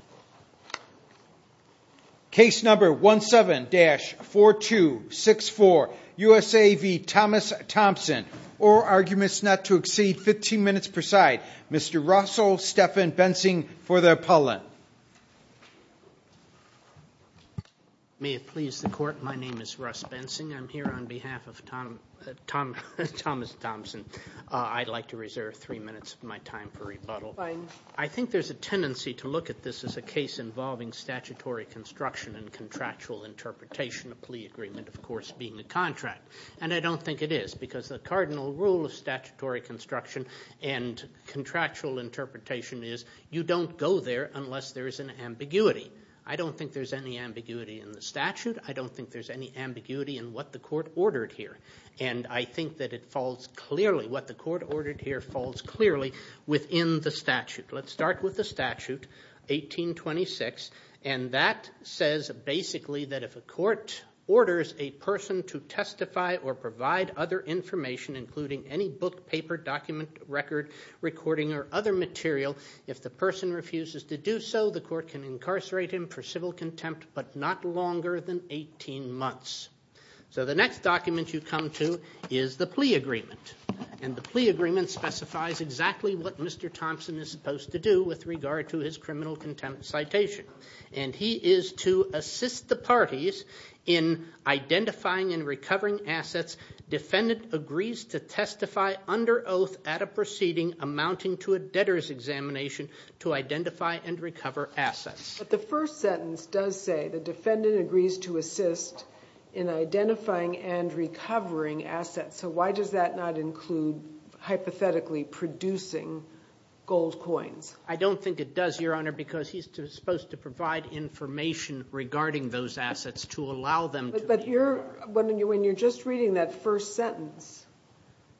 Oral arguments not to exceed 15 minutes per side. Mr. Russell Stephan Bensing for the appellant. May it please the court, my name is Russ Bensing. I'm here on behalf of Thomas Thompson. I'd like to reserve three minutes of my time for rebuttal. I think there's a tendency to look at this as a case involving statutory construction and contractual interpretation, a plea agreement of course being a contract. And I don't think it is because the cardinal rule of statutory construction and contractual interpretation is you don't go there unless there is an ambiguity. I don't think there's any ambiguity in the statute. I don't think there's any ambiguity in what the court ordered here. And I think what the court ordered here falls clearly within the statute. Let's start with the statute, 1826. And that says basically that if a court orders a person to testify or provide other information including any book, paper, document, record, recording or other material, if the person refuses to do so, the court can incarcerate him for civil contempt but not longer than 18 months. So the next document you come to is the plea agreement. And the plea agreement specifies exactly what Mr. Thompson is supposed to do with regard to his criminal contempt citation. And he is to assist the parties in identifying and recovering assets defendant agrees to testify under oath at a proceeding amounting to a debtors examination to identify and recover assets. But the first sentence does say the defendant agrees to assist in identifying and recovering assets. So why does that not include hypothetically producing gold coins? I don't think it does, Your Honor, because he's supposed to provide information regarding those assets to allow them to be recovered. But when you're just reading that first sentence,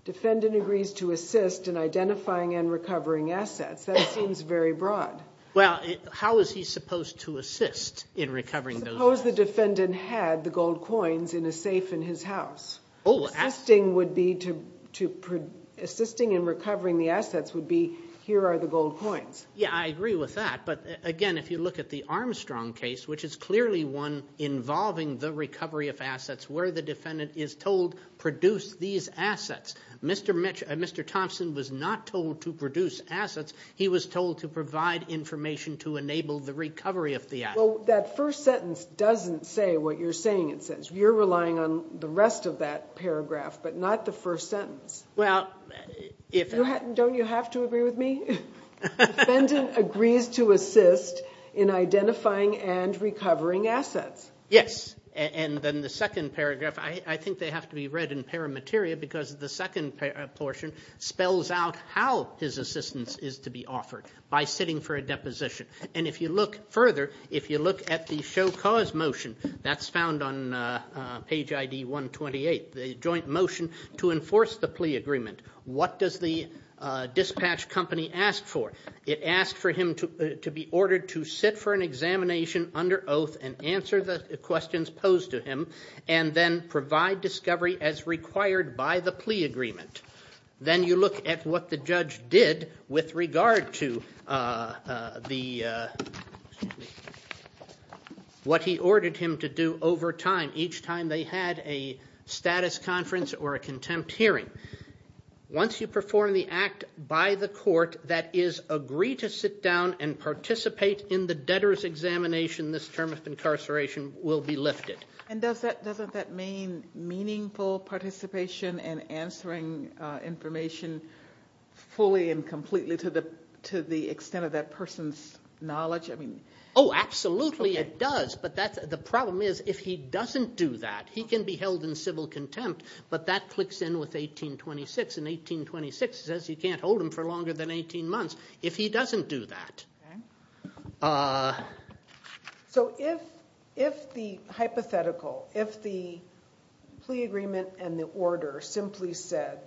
defendant agrees to assist in identifying and recovering assets, that seems very broad. Well, how is he supposed to assist in recovering those assets? Suppose the defendant had the gold coins in a safe in his house. Oh, assets. Assisting would be to, assisting in recovering the assets would be here are the gold coins. Yeah, I agree with that. But again, if you look at the Armstrong case, which is clearly one involving the recovery of assets where the defendant is told produce these assets. Mr. Thompson was not told to produce assets. He was told to provide information to enable the recovery of the assets. Well, that first sentence doesn't say what you're saying it says. You're relying on the rest of that paragraph, but not the first sentence. Well, if. Don't you have to agree with me? Defendant agrees to assist in identifying and recovering assets. Yes, and then the second paragraph, I think they have to be read in paramateria because the second portion spells out how his assistance is to be offered by sitting for a deposition. And if you look further, if you look at the show cause motion that's found on page I.D. 128, the joint motion to enforce the plea agreement. What does the dispatch company ask for? It asked for him to be ordered to sit for an examination under oath and answer the questions posed to him and then provide discovery as required by the plea agreement. Then you look at what the judge did with regard to the. What he ordered him to do over time, each time they had a status conference or a contempt hearing. Once you perform the act by the court that is agree to sit down and participate in the debtors examination, this term of incarceration will be lifted. And doesn't that mean meaningful participation and answering information fully and completely to the extent of that person's knowledge? Oh, absolutely it does. But the problem is if he doesn't do that, he can be held in civil contempt, but that clicks in with 1826. And 1826 says you can't hold him for longer than 18 months if he doesn't do that. So if the hypothetical, if the plea agreement and the order simply said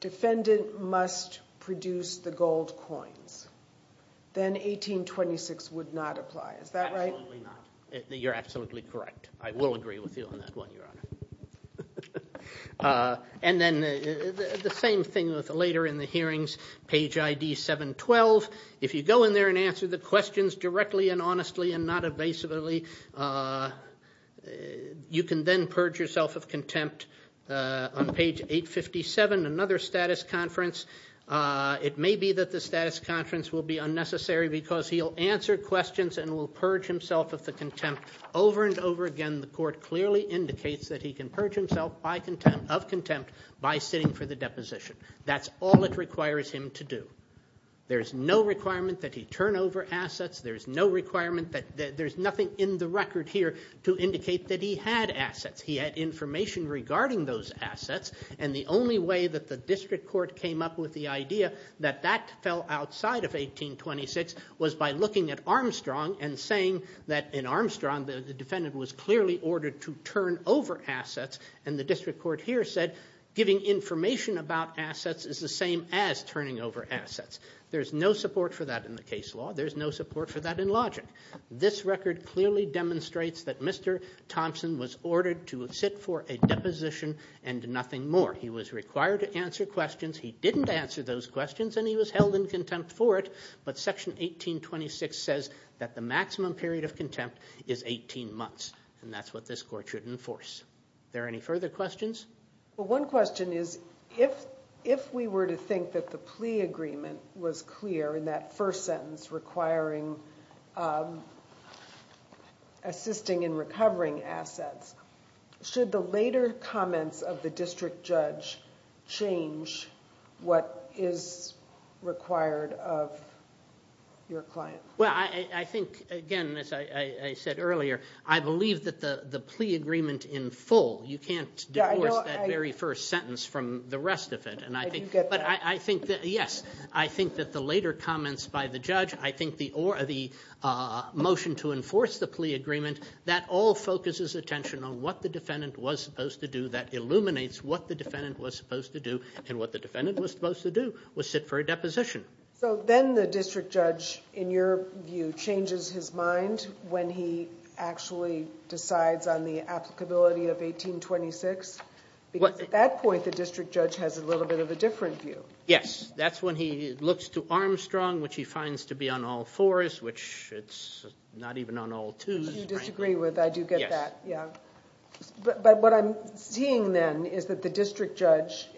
defendant must produce the gold coins, then 1826 would not apply. Is that right? Absolutely not. You're absolutely correct. I will agree with you on that one, Your Honor. And then the same thing with later in the hearings, page ID 712. If you go in there and answer the questions directly and honestly and not evasively, you can then purge yourself of contempt. On page 857, another status conference, it may be that the status conference will be unnecessary because he'll answer questions and will purge himself of the contempt over and over again. And the court clearly indicates that he can purge himself of contempt by sitting for the deposition. That's all it requires him to do. There's no requirement that he turn over assets. There's no requirement that there's nothing in the record here to indicate that he had assets. He had information regarding those assets. And the only way that the district court came up with the idea that that fell outside of 1826 was by looking at Armstrong and saying that in Armstrong the defendant was clearly ordered to turn over assets. And the district court here said giving information about assets is the same as turning over assets. There's no support for that in the case law. There's no support for that in logic. This record clearly demonstrates that Mr. Thompson was ordered to sit for a deposition and nothing more. He was required to answer questions. He didn't answer those questions, and he was held in contempt for it. But section 1826 says that the maximum period of contempt is 18 months, and that's what this court should enforce. Are there any further questions? Well, one question is if we were to think that the plea agreement was clear in that first sentence requiring assisting in recovering assets, should the later comments of the district judge change what is required of your client? Well, I think, again, as I said earlier, I believe that the plea agreement in full. You can't divorce that very first sentence from the rest of it. I do get that. Yes. I think that the later comments by the judge, I think the motion to enforce the plea agreement, that all focuses attention on what the defendant was supposed to do. That illuminates what the defendant was supposed to do, and what the defendant was supposed to do was sit for a deposition. So then the district judge, in your view, changes his mind when he actually decides on the applicability of 1826? Because at that point, the district judge has a little bit of a different view. Yes. That's when he looks to Armstrong, which he finds to be on all fours, which it's not even on all twos. Which you disagree with. I do get that. Yes. But what I'm seeing then is that the district judge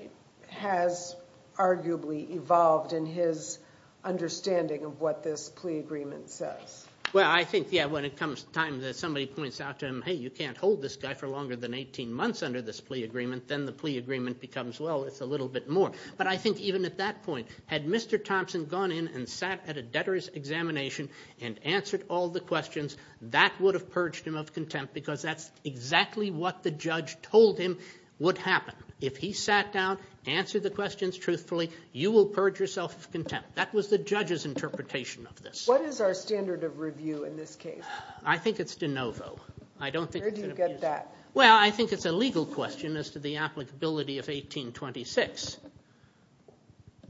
has arguably evolved in his understanding of what this plea agreement says. Well, I think, yeah, when it comes time that somebody points out to him, hey, you can't hold this guy for longer than 18 months under this plea agreement, then the plea agreement becomes, well, it's a little bit more. But I think even at that point, had Mr. Thompson gone in and sat at a debtor's examination and answered all the questions, that would have purged him of contempt because that's exactly what the judge told him would happen. If he sat down, answered the questions truthfully, you will purge yourself of contempt. That was the judge's interpretation of this. What is our standard of review in this case? I think it's de novo. Where do you get that? Well, I think it's a legal question as to the applicability of 1826.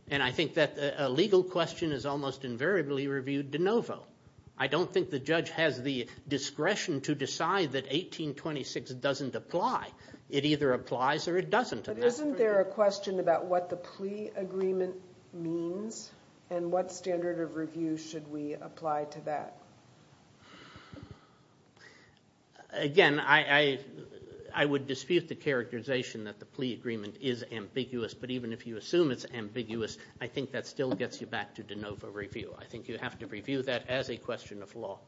And I think that a legal question is almost invariably reviewed de novo. I don't think the judge has the discretion to decide that 1826 doesn't apply. It either applies or it doesn't. But isn't there a question about what the plea agreement means and what standard of review should we apply to that? Again, I would dispute the characterization that the plea agreement is ambiguous. But even if you assume it's ambiguous, I think that still gets you back to de novo review. I think you have to review that as a question of law.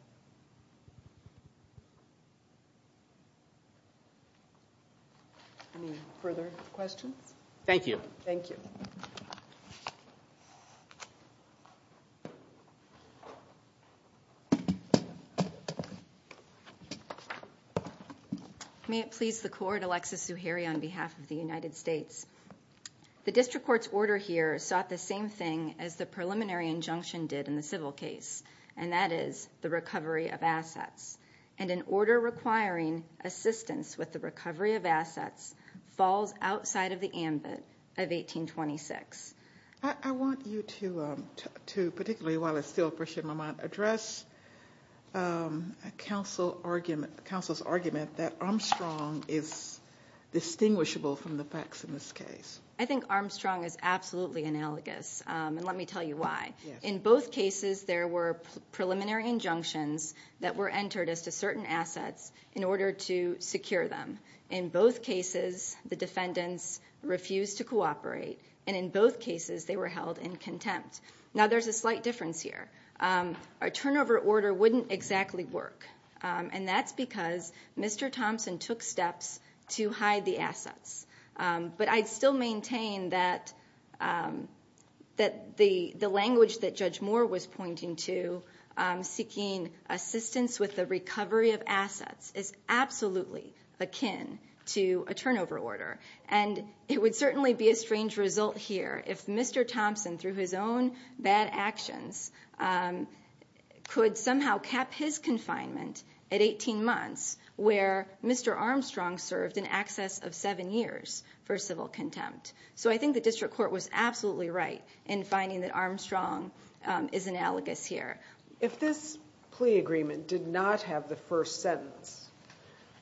Any further questions? Thank you. Thank you. May it please the court, Alexis Zuhairi on behalf of the United States. The district court's order here sought the same thing as the preliminary injunction did in the civil case. And that is the recovery of assets. And an order requiring assistance with the recovery of assets falls outside of the ambit of 1826. I want you to, particularly while it's still fresh in my mind, address counsel's argument that Armstrong is distinguishable from the facts in this case. I think Armstrong is absolutely analogous. And let me tell you why. In both cases, there were preliminary injunctions that were entered as to certain assets in order to secure them. In both cases, the defendants refused to cooperate. And in both cases, they were held in contempt. Now, there's a slight difference here. A turnover order wouldn't exactly work. And that's because Mr. Thompson took steps to hide the assets. But I'd still maintain that the language that Judge Moore was pointing to, seeking assistance with the recovery of assets, is absolutely akin to a turnover order. And it would certainly be a strange result here if Mr. Thompson, through his own bad actions, could somehow cap his confinement at 18 months, where Mr. Armstrong served in excess of seven years for civil contempt. So I think the district court was absolutely right in finding that Armstrong is analogous here. If this plea agreement did not have the first sentence,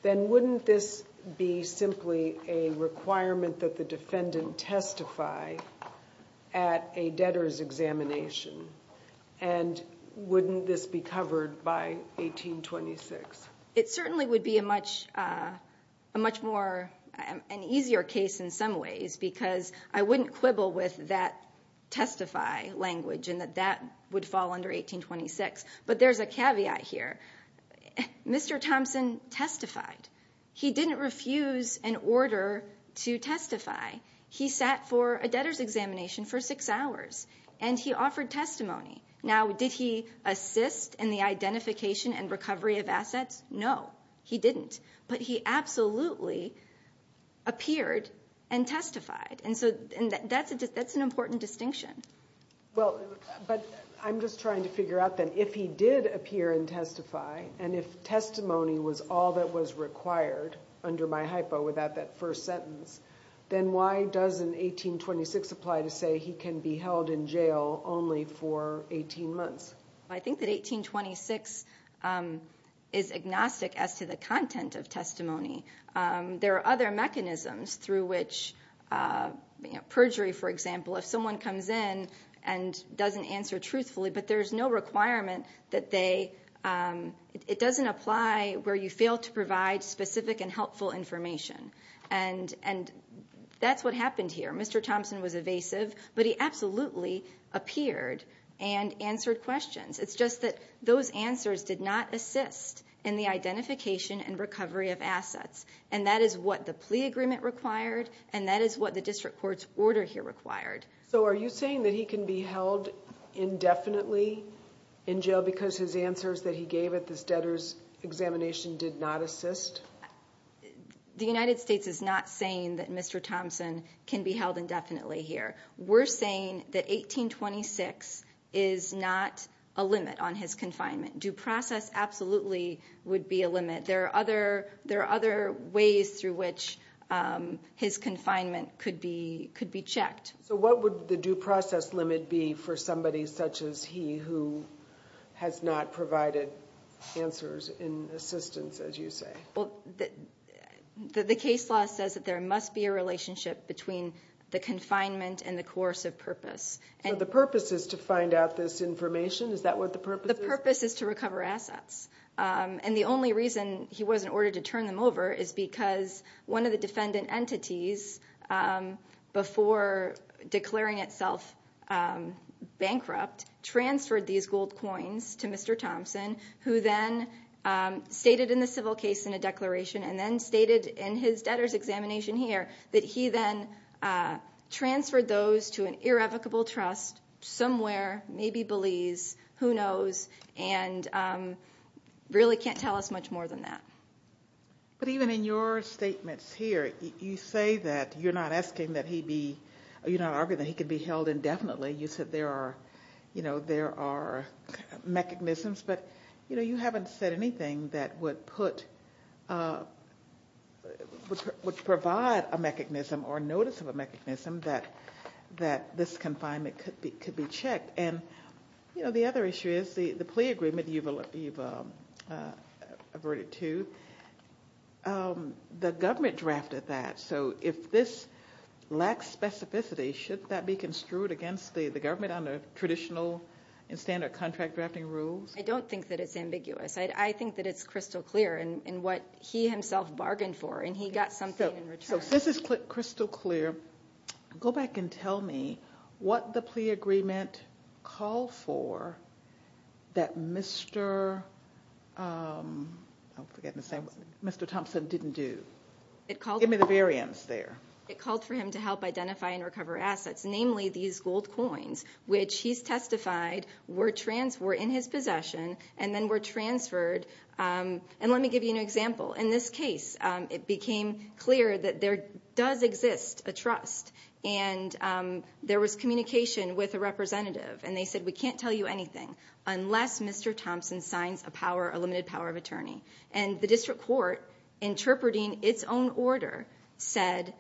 then wouldn't this be simply a requirement that the defendant testify at a debtor's examination? And wouldn't this be covered by 1826? It certainly would be a much more easier case in some ways because I wouldn't quibble with that testify language and that that would fall under 1826. But there's a caveat here. Mr. Thompson testified. He didn't refuse an order to testify. He sat for a debtor's examination for six hours. And he offered testimony. Now, did he assist in the identification and recovery of assets? No, he didn't. But he absolutely appeared and testified. And so that's an important distinction. But I'm just trying to figure out then, if he did appear and testify, and if testimony was all that was required under my hypo without that first sentence, then why doesn't 1826 apply to say he can be held in jail only for 18 months? I think that 1826 is agnostic as to the content of testimony. There are other mechanisms through which, you know, perjury, for example, if someone comes in and doesn't answer truthfully, but there's no requirement that they ‑‑ it doesn't apply where you fail to provide specific and helpful information. And that's what happened here. Mr. Thompson was evasive, but he absolutely appeared and answered questions. It's just that those answers did not assist in the identification and recovery of assets. And that is what the plea agreement required, and that is what the district court's order here required. So are you saying that he can be held indefinitely in jail because his answers that he gave at this debtor's examination did not assist? The United States is not saying that Mr. Thompson can be held indefinitely here. We're saying that 1826 is not a limit on his confinement. Due process absolutely would be a limit. There are other ways through which his confinement could be checked. So what would the due process limit be for somebody such as he who has not provided answers and assistance, as you say? The case law says that there must be a relationship between the confinement and the coercive purpose. So the purpose is to find out this information? Is that what the purpose is? The purpose is to recover assets. And the only reason he was in order to turn them over is because one of the defendant entities, before declaring itself bankrupt, transferred these gold coins to Mr. Thompson, who then stated in the civil case in a declaration and then stated in his debtor's examination here that he then transferred those to an irrevocable trust somewhere, maybe Belize, who knows, and really can't tell us much more than that. But even in your statements here, you say that you're not arguing that he could be held indefinitely. You said there are mechanisms, but you haven't said anything that would provide a mechanism or notice of a mechanism that this confinement could be checked. And the other issue is the plea agreement you've averted to, the government drafted that. So if this lacks specificity, should that be construed against the government under traditional and standard contract drafting rules? I don't think that it's ambiguous. I think that it's crystal clear in what he himself bargained for, and he got something in return. So since it's crystal clear, go back and tell me what the plea agreement called for that Mr. Thompson didn't do. Give me the variance there. It called for him to help identify and recover assets, namely these gold coins, which he's testified were in his possession and then were transferred. And let me give you an example. In this case, it became clear that there does exist a trust, and there was communication with a representative, and they said, we can't tell you anything unless Mr. Thompson signs a limited power of attorney. And the district court, interpreting its own order, said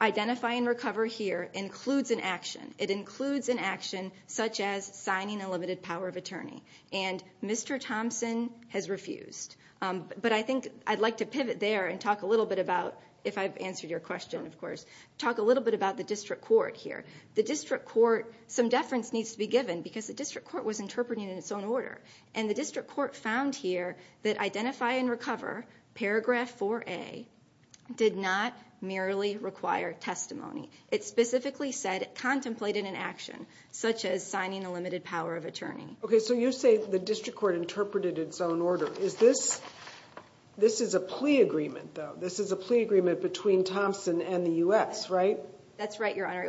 identify and recover here includes an action. It includes an action such as signing a limited power of attorney. And Mr. Thompson has refused. But I think I'd like to pivot there and talk a little bit about, if I've answered your question, of course, talk a little bit about the district court here. The district court, some deference needs to be given because the district court was interpreting in its own order. And the district court found here that identify and recover, paragraph 4A, did not merely require testimony. It specifically said it contemplated an action, such as signing a limited power of attorney. Okay, so you say the district court interpreted its own order. This is a plea agreement, though. This is a plea agreement between Thompson and the U.S., right? That's right, Your Honor.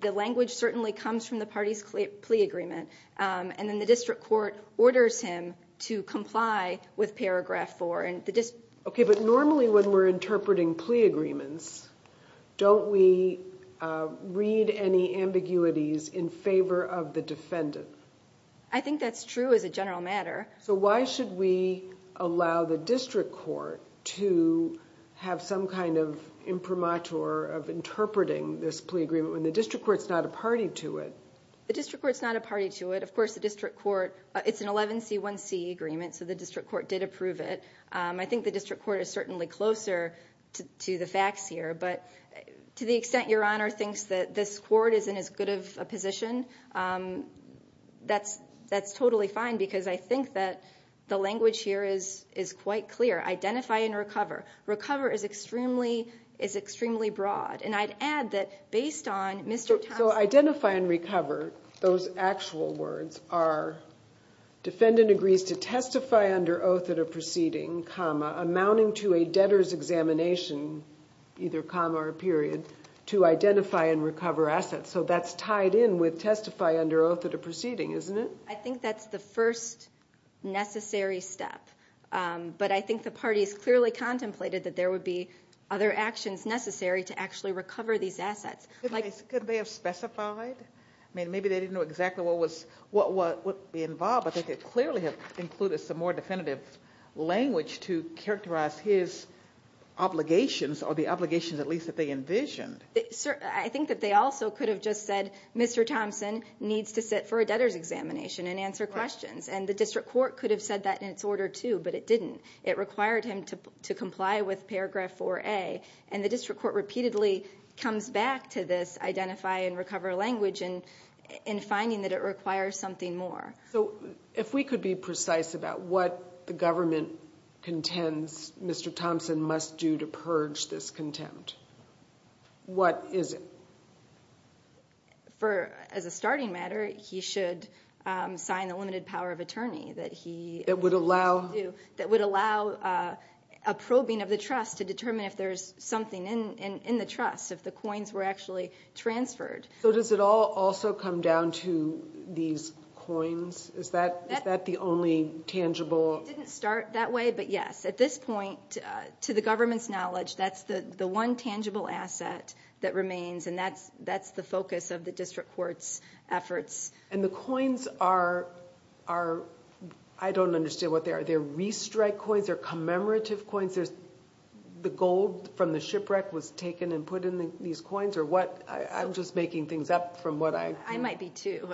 The language certainly comes from the party's plea agreement. And then the district court orders him to comply with paragraph 4. Okay, but normally when we're interpreting plea agreements, don't we read any ambiguities in favor of the defendant? I think that's true as a general matter. So why should we allow the district court to have some kind of imprimatur of interpreting this plea agreement when the district court's not a party to it? The district court's not a party to it. Of course, the district court, it's an 11C1C agreement, so the district court did approve it. I think the district court is certainly closer to the facts here. But to the extent Your Honor thinks that this court isn't as good of a position, that's totally fine because I think that the language here is quite clear. Identify and recover. Recover is extremely broad. And I'd add that based on Mr. Thompson So identify and recover, those actual words are defendant agrees to testify under oath at a proceeding, amounting to a debtor's examination, either comma or period, to identify and recover assets. So that's tied in with testify under oath at a proceeding, isn't it? I think that's the first necessary step. But I think the party has clearly contemplated that there would be other actions necessary to actually recover these assets. Could they have specified? Maybe they didn't know exactly what would be involved, but they could clearly have included some more definitive language to characterize his obligations or the obligations at least that they envisioned. I think that they also could have just said, Mr. Thompson needs to sit for a debtor's examination and answer questions. And the district court could have said that in its order too, but it didn't. It required him to comply with paragraph 4A. And the district court repeatedly comes back to this identify and recover language in finding that it requires something more. So if we could be precise about what the government contends Mr. Thompson must do to purge this contempt, what is it? As a starting matter, he should sign the limited power of attorney that he would allow a probing of the trust to determine if there's something in the trust, if the coins were actually transferred. So does it all also come down to these coins? Is that the only tangible? It didn't start that way, but yes. At this point, to the government's knowledge, that's the one tangible asset that remains, and that's the focus of the district court's efforts. And the coins are, I don't understand what they are. Are they restrike coins? Are they commemorative coins? The gold from the shipwreck was taken and put in these coins? Or what? I'm just making things up from what I hear. I might be too.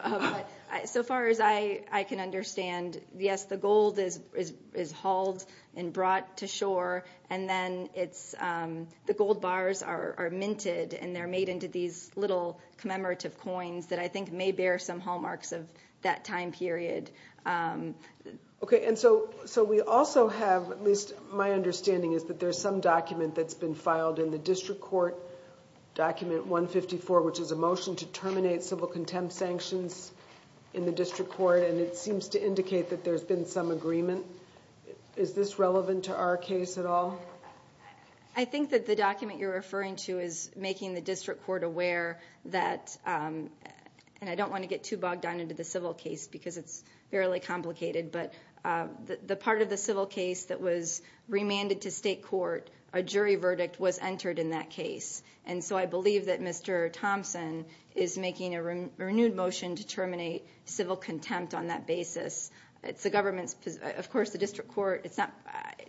So far as I can understand, yes, the gold is hauled and brought to shore, and then the gold bars are minted, and they're made into these little commemorative coins that I think may bear some hallmarks of that time period. Okay, and so we also have, at least my understanding is that there's some document that's been filed in the district court, document 154, which is a motion to terminate civil contempt sanctions in the district court, and it seems to indicate that there's been some agreement. Is this relevant to our case at all? I think that the document you're referring to is making the district court aware that, and I don't want to get too bogged down into the civil case because it's fairly complicated, but the part of the civil case that was remanded to state court, a jury verdict was entered in that case, and so I believe that Mr. Thompson is making a renewed motion to terminate civil contempt on that basis. It's the government's position. Of course, the district court, it's not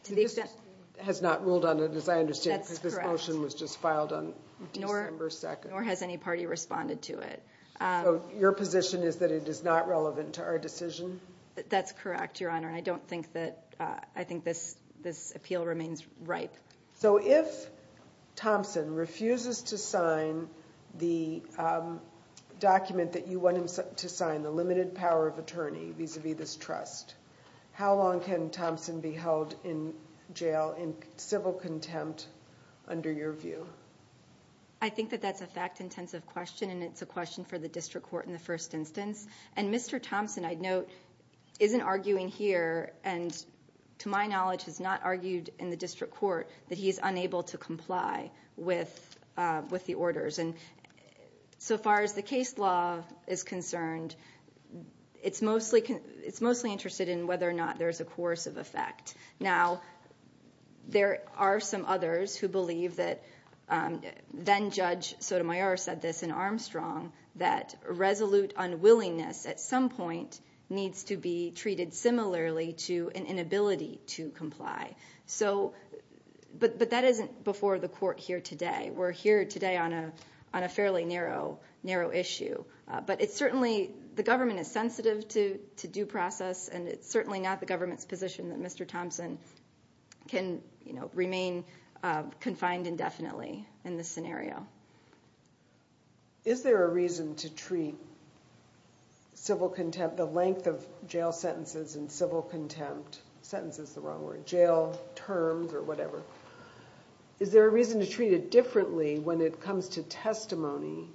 to the extent. The district court has not ruled on it, as I understand it, because this motion was just filed on December 2nd. Nor has any party responded to it. So your position is that it is not relevant to our decision? That's correct, Your Honor, and I don't think that, I think this appeal remains ripe. So if Thompson refuses to sign the document that you want him to sign, the limited power of attorney vis-à-vis this trust, how long can Thompson be held in jail in civil contempt under your view? I think that that's a fact-intensive question, and it's a question for the district court in the first instance. And Mr. Thompson, I'd note, isn't arguing here and to my knowledge has not argued in the district court that he's unable to comply with the orders. So far as the case law is concerned, it's mostly interested in whether or not there's a coercive effect. Now, there are some others who believe that then-Judge Sotomayor said this in Armstrong that resolute unwillingness at some point needs to be treated similarly to an inability to comply. So, but that isn't before the court here today. We're here today on a fairly narrow issue. But it's certainly, the government is sensitive to due process, and it's certainly not the government's position that Mr. Thompson can remain confined indefinitely in this scenario. Is there a reason to treat civil contempt, the length of jail sentences and civil contempt, sentence is the wrong word, jail terms or whatever, is there a reason to treat it differently when it comes to testimony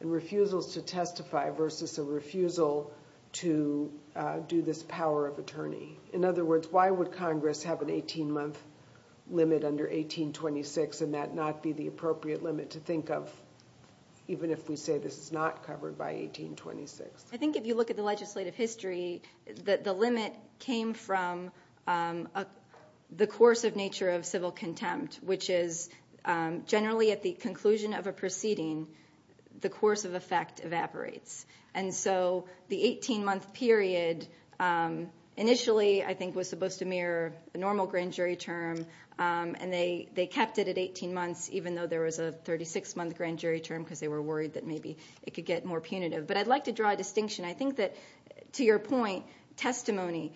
and refusals to testify versus a refusal to do this power of attorney? In other words, why would Congress have an 18-month limit under 1826 and that not be the appropriate limit to think of, even if we say this is not covered by 1826? I think if you look at the legislative history, the limit came from the coercive nature of civil contempt, which is generally at the conclusion of a proceeding, the coercive effect evaporates. And so the 18-month period initially, I think, was supposed to mirror the normal grand jury term, and they kept it at 18 months, even though there was a 36-month grand jury term because they were worried that maybe it could get more punitive. But I'd like to draw a distinction. I think that, to your point, testimony,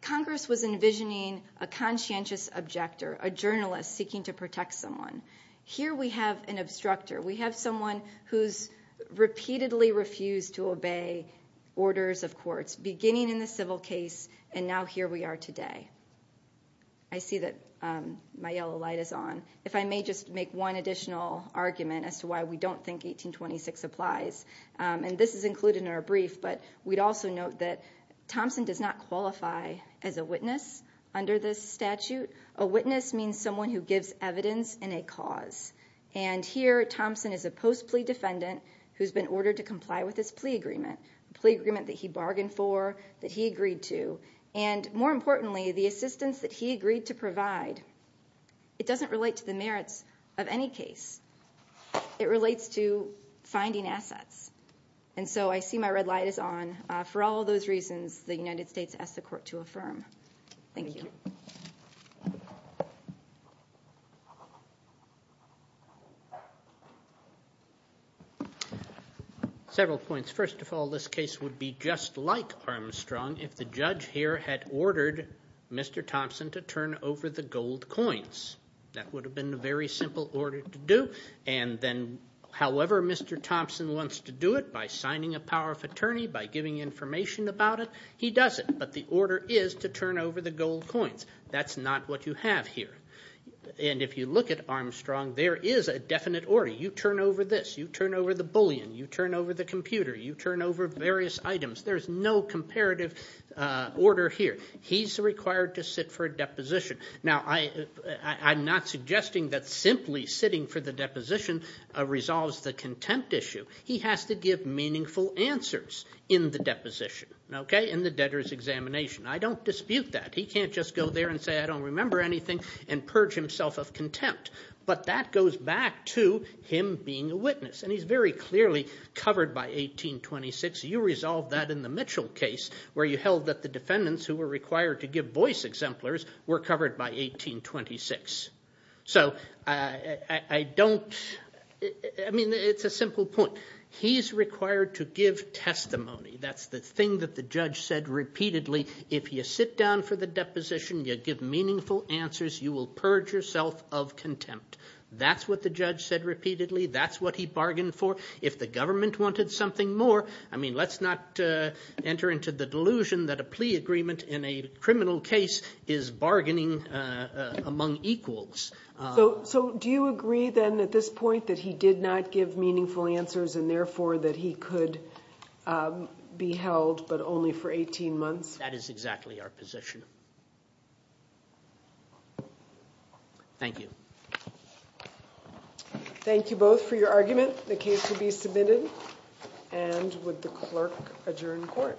Congress was envisioning a conscientious objector, a journalist seeking to protect someone. Here we have an obstructor. We have someone who's repeatedly refused to obey orders of courts, beginning in the civil case, and now here we are today. I see that my yellow light is on. If I may just make one additional argument as to why we don't think 1826 applies, and this is included in our brief, but we'd also note that Thompson does not qualify as a witness under this statute. A witness means someone who gives evidence in a cause. And here Thompson is a post-plea defendant who's been ordered to comply with his plea agreement, the plea agreement that he bargained for, that he agreed to, and more importantly, the assistance that he agreed to provide. It doesn't relate to the merits of any case. It relates to finding assets. And so I see my red light is on. For all those reasons, the United States asks the court to affirm. Thank you. Several points. First of all, this case would be just like Armstrong if the judge here had ordered Mr. Thompson to turn over the gold coins. That would have been a very simple order to do. And then however Mr. Thompson wants to do it, by signing a power of attorney, by giving information about it, he does it. But the order is to turn over the gold coins. That's not what you have here. And if you look at Armstrong, there is a definite order. You turn over this. You turn over the bullion. You turn over the computer. You turn over various items. There's no comparative order here. He's required to sit for a deposition. Now, I'm not suggesting that simply sitting for the deposition resolves the contempt issue. He has to give meaningful answers in the deposition, okay, in the debtor's examination. I don't dispute that. He can't just go there and say, I don't remember anything and purge himself of contempt. But that goes back to him being a witness. And he's very clearly covered by 1826. You resolved that in the Mitchell case where you held that the defendants who were required to give voice exemplars were covered by 1826. So I don't, I mean, it's a simple point. He's required to give testimony. That's the thing that the judge said repeatedly. If you sit down for the deposition, you give meaningful answers, you will purge yourself of contempt. That's what the judge said repeatedly. That's what he bargained for. If the government wanted something more, I mean, let's not enter into the delusion that a plea agreement in a criminal case is bargaining among equals. So do you agree then at this point that he did not give meaningful answers and therefore that he could be held but only for 18 months? That is exactly our position. Thank you. Thank you both for your argument. The case will be submitted. And would the clerk adjourn court?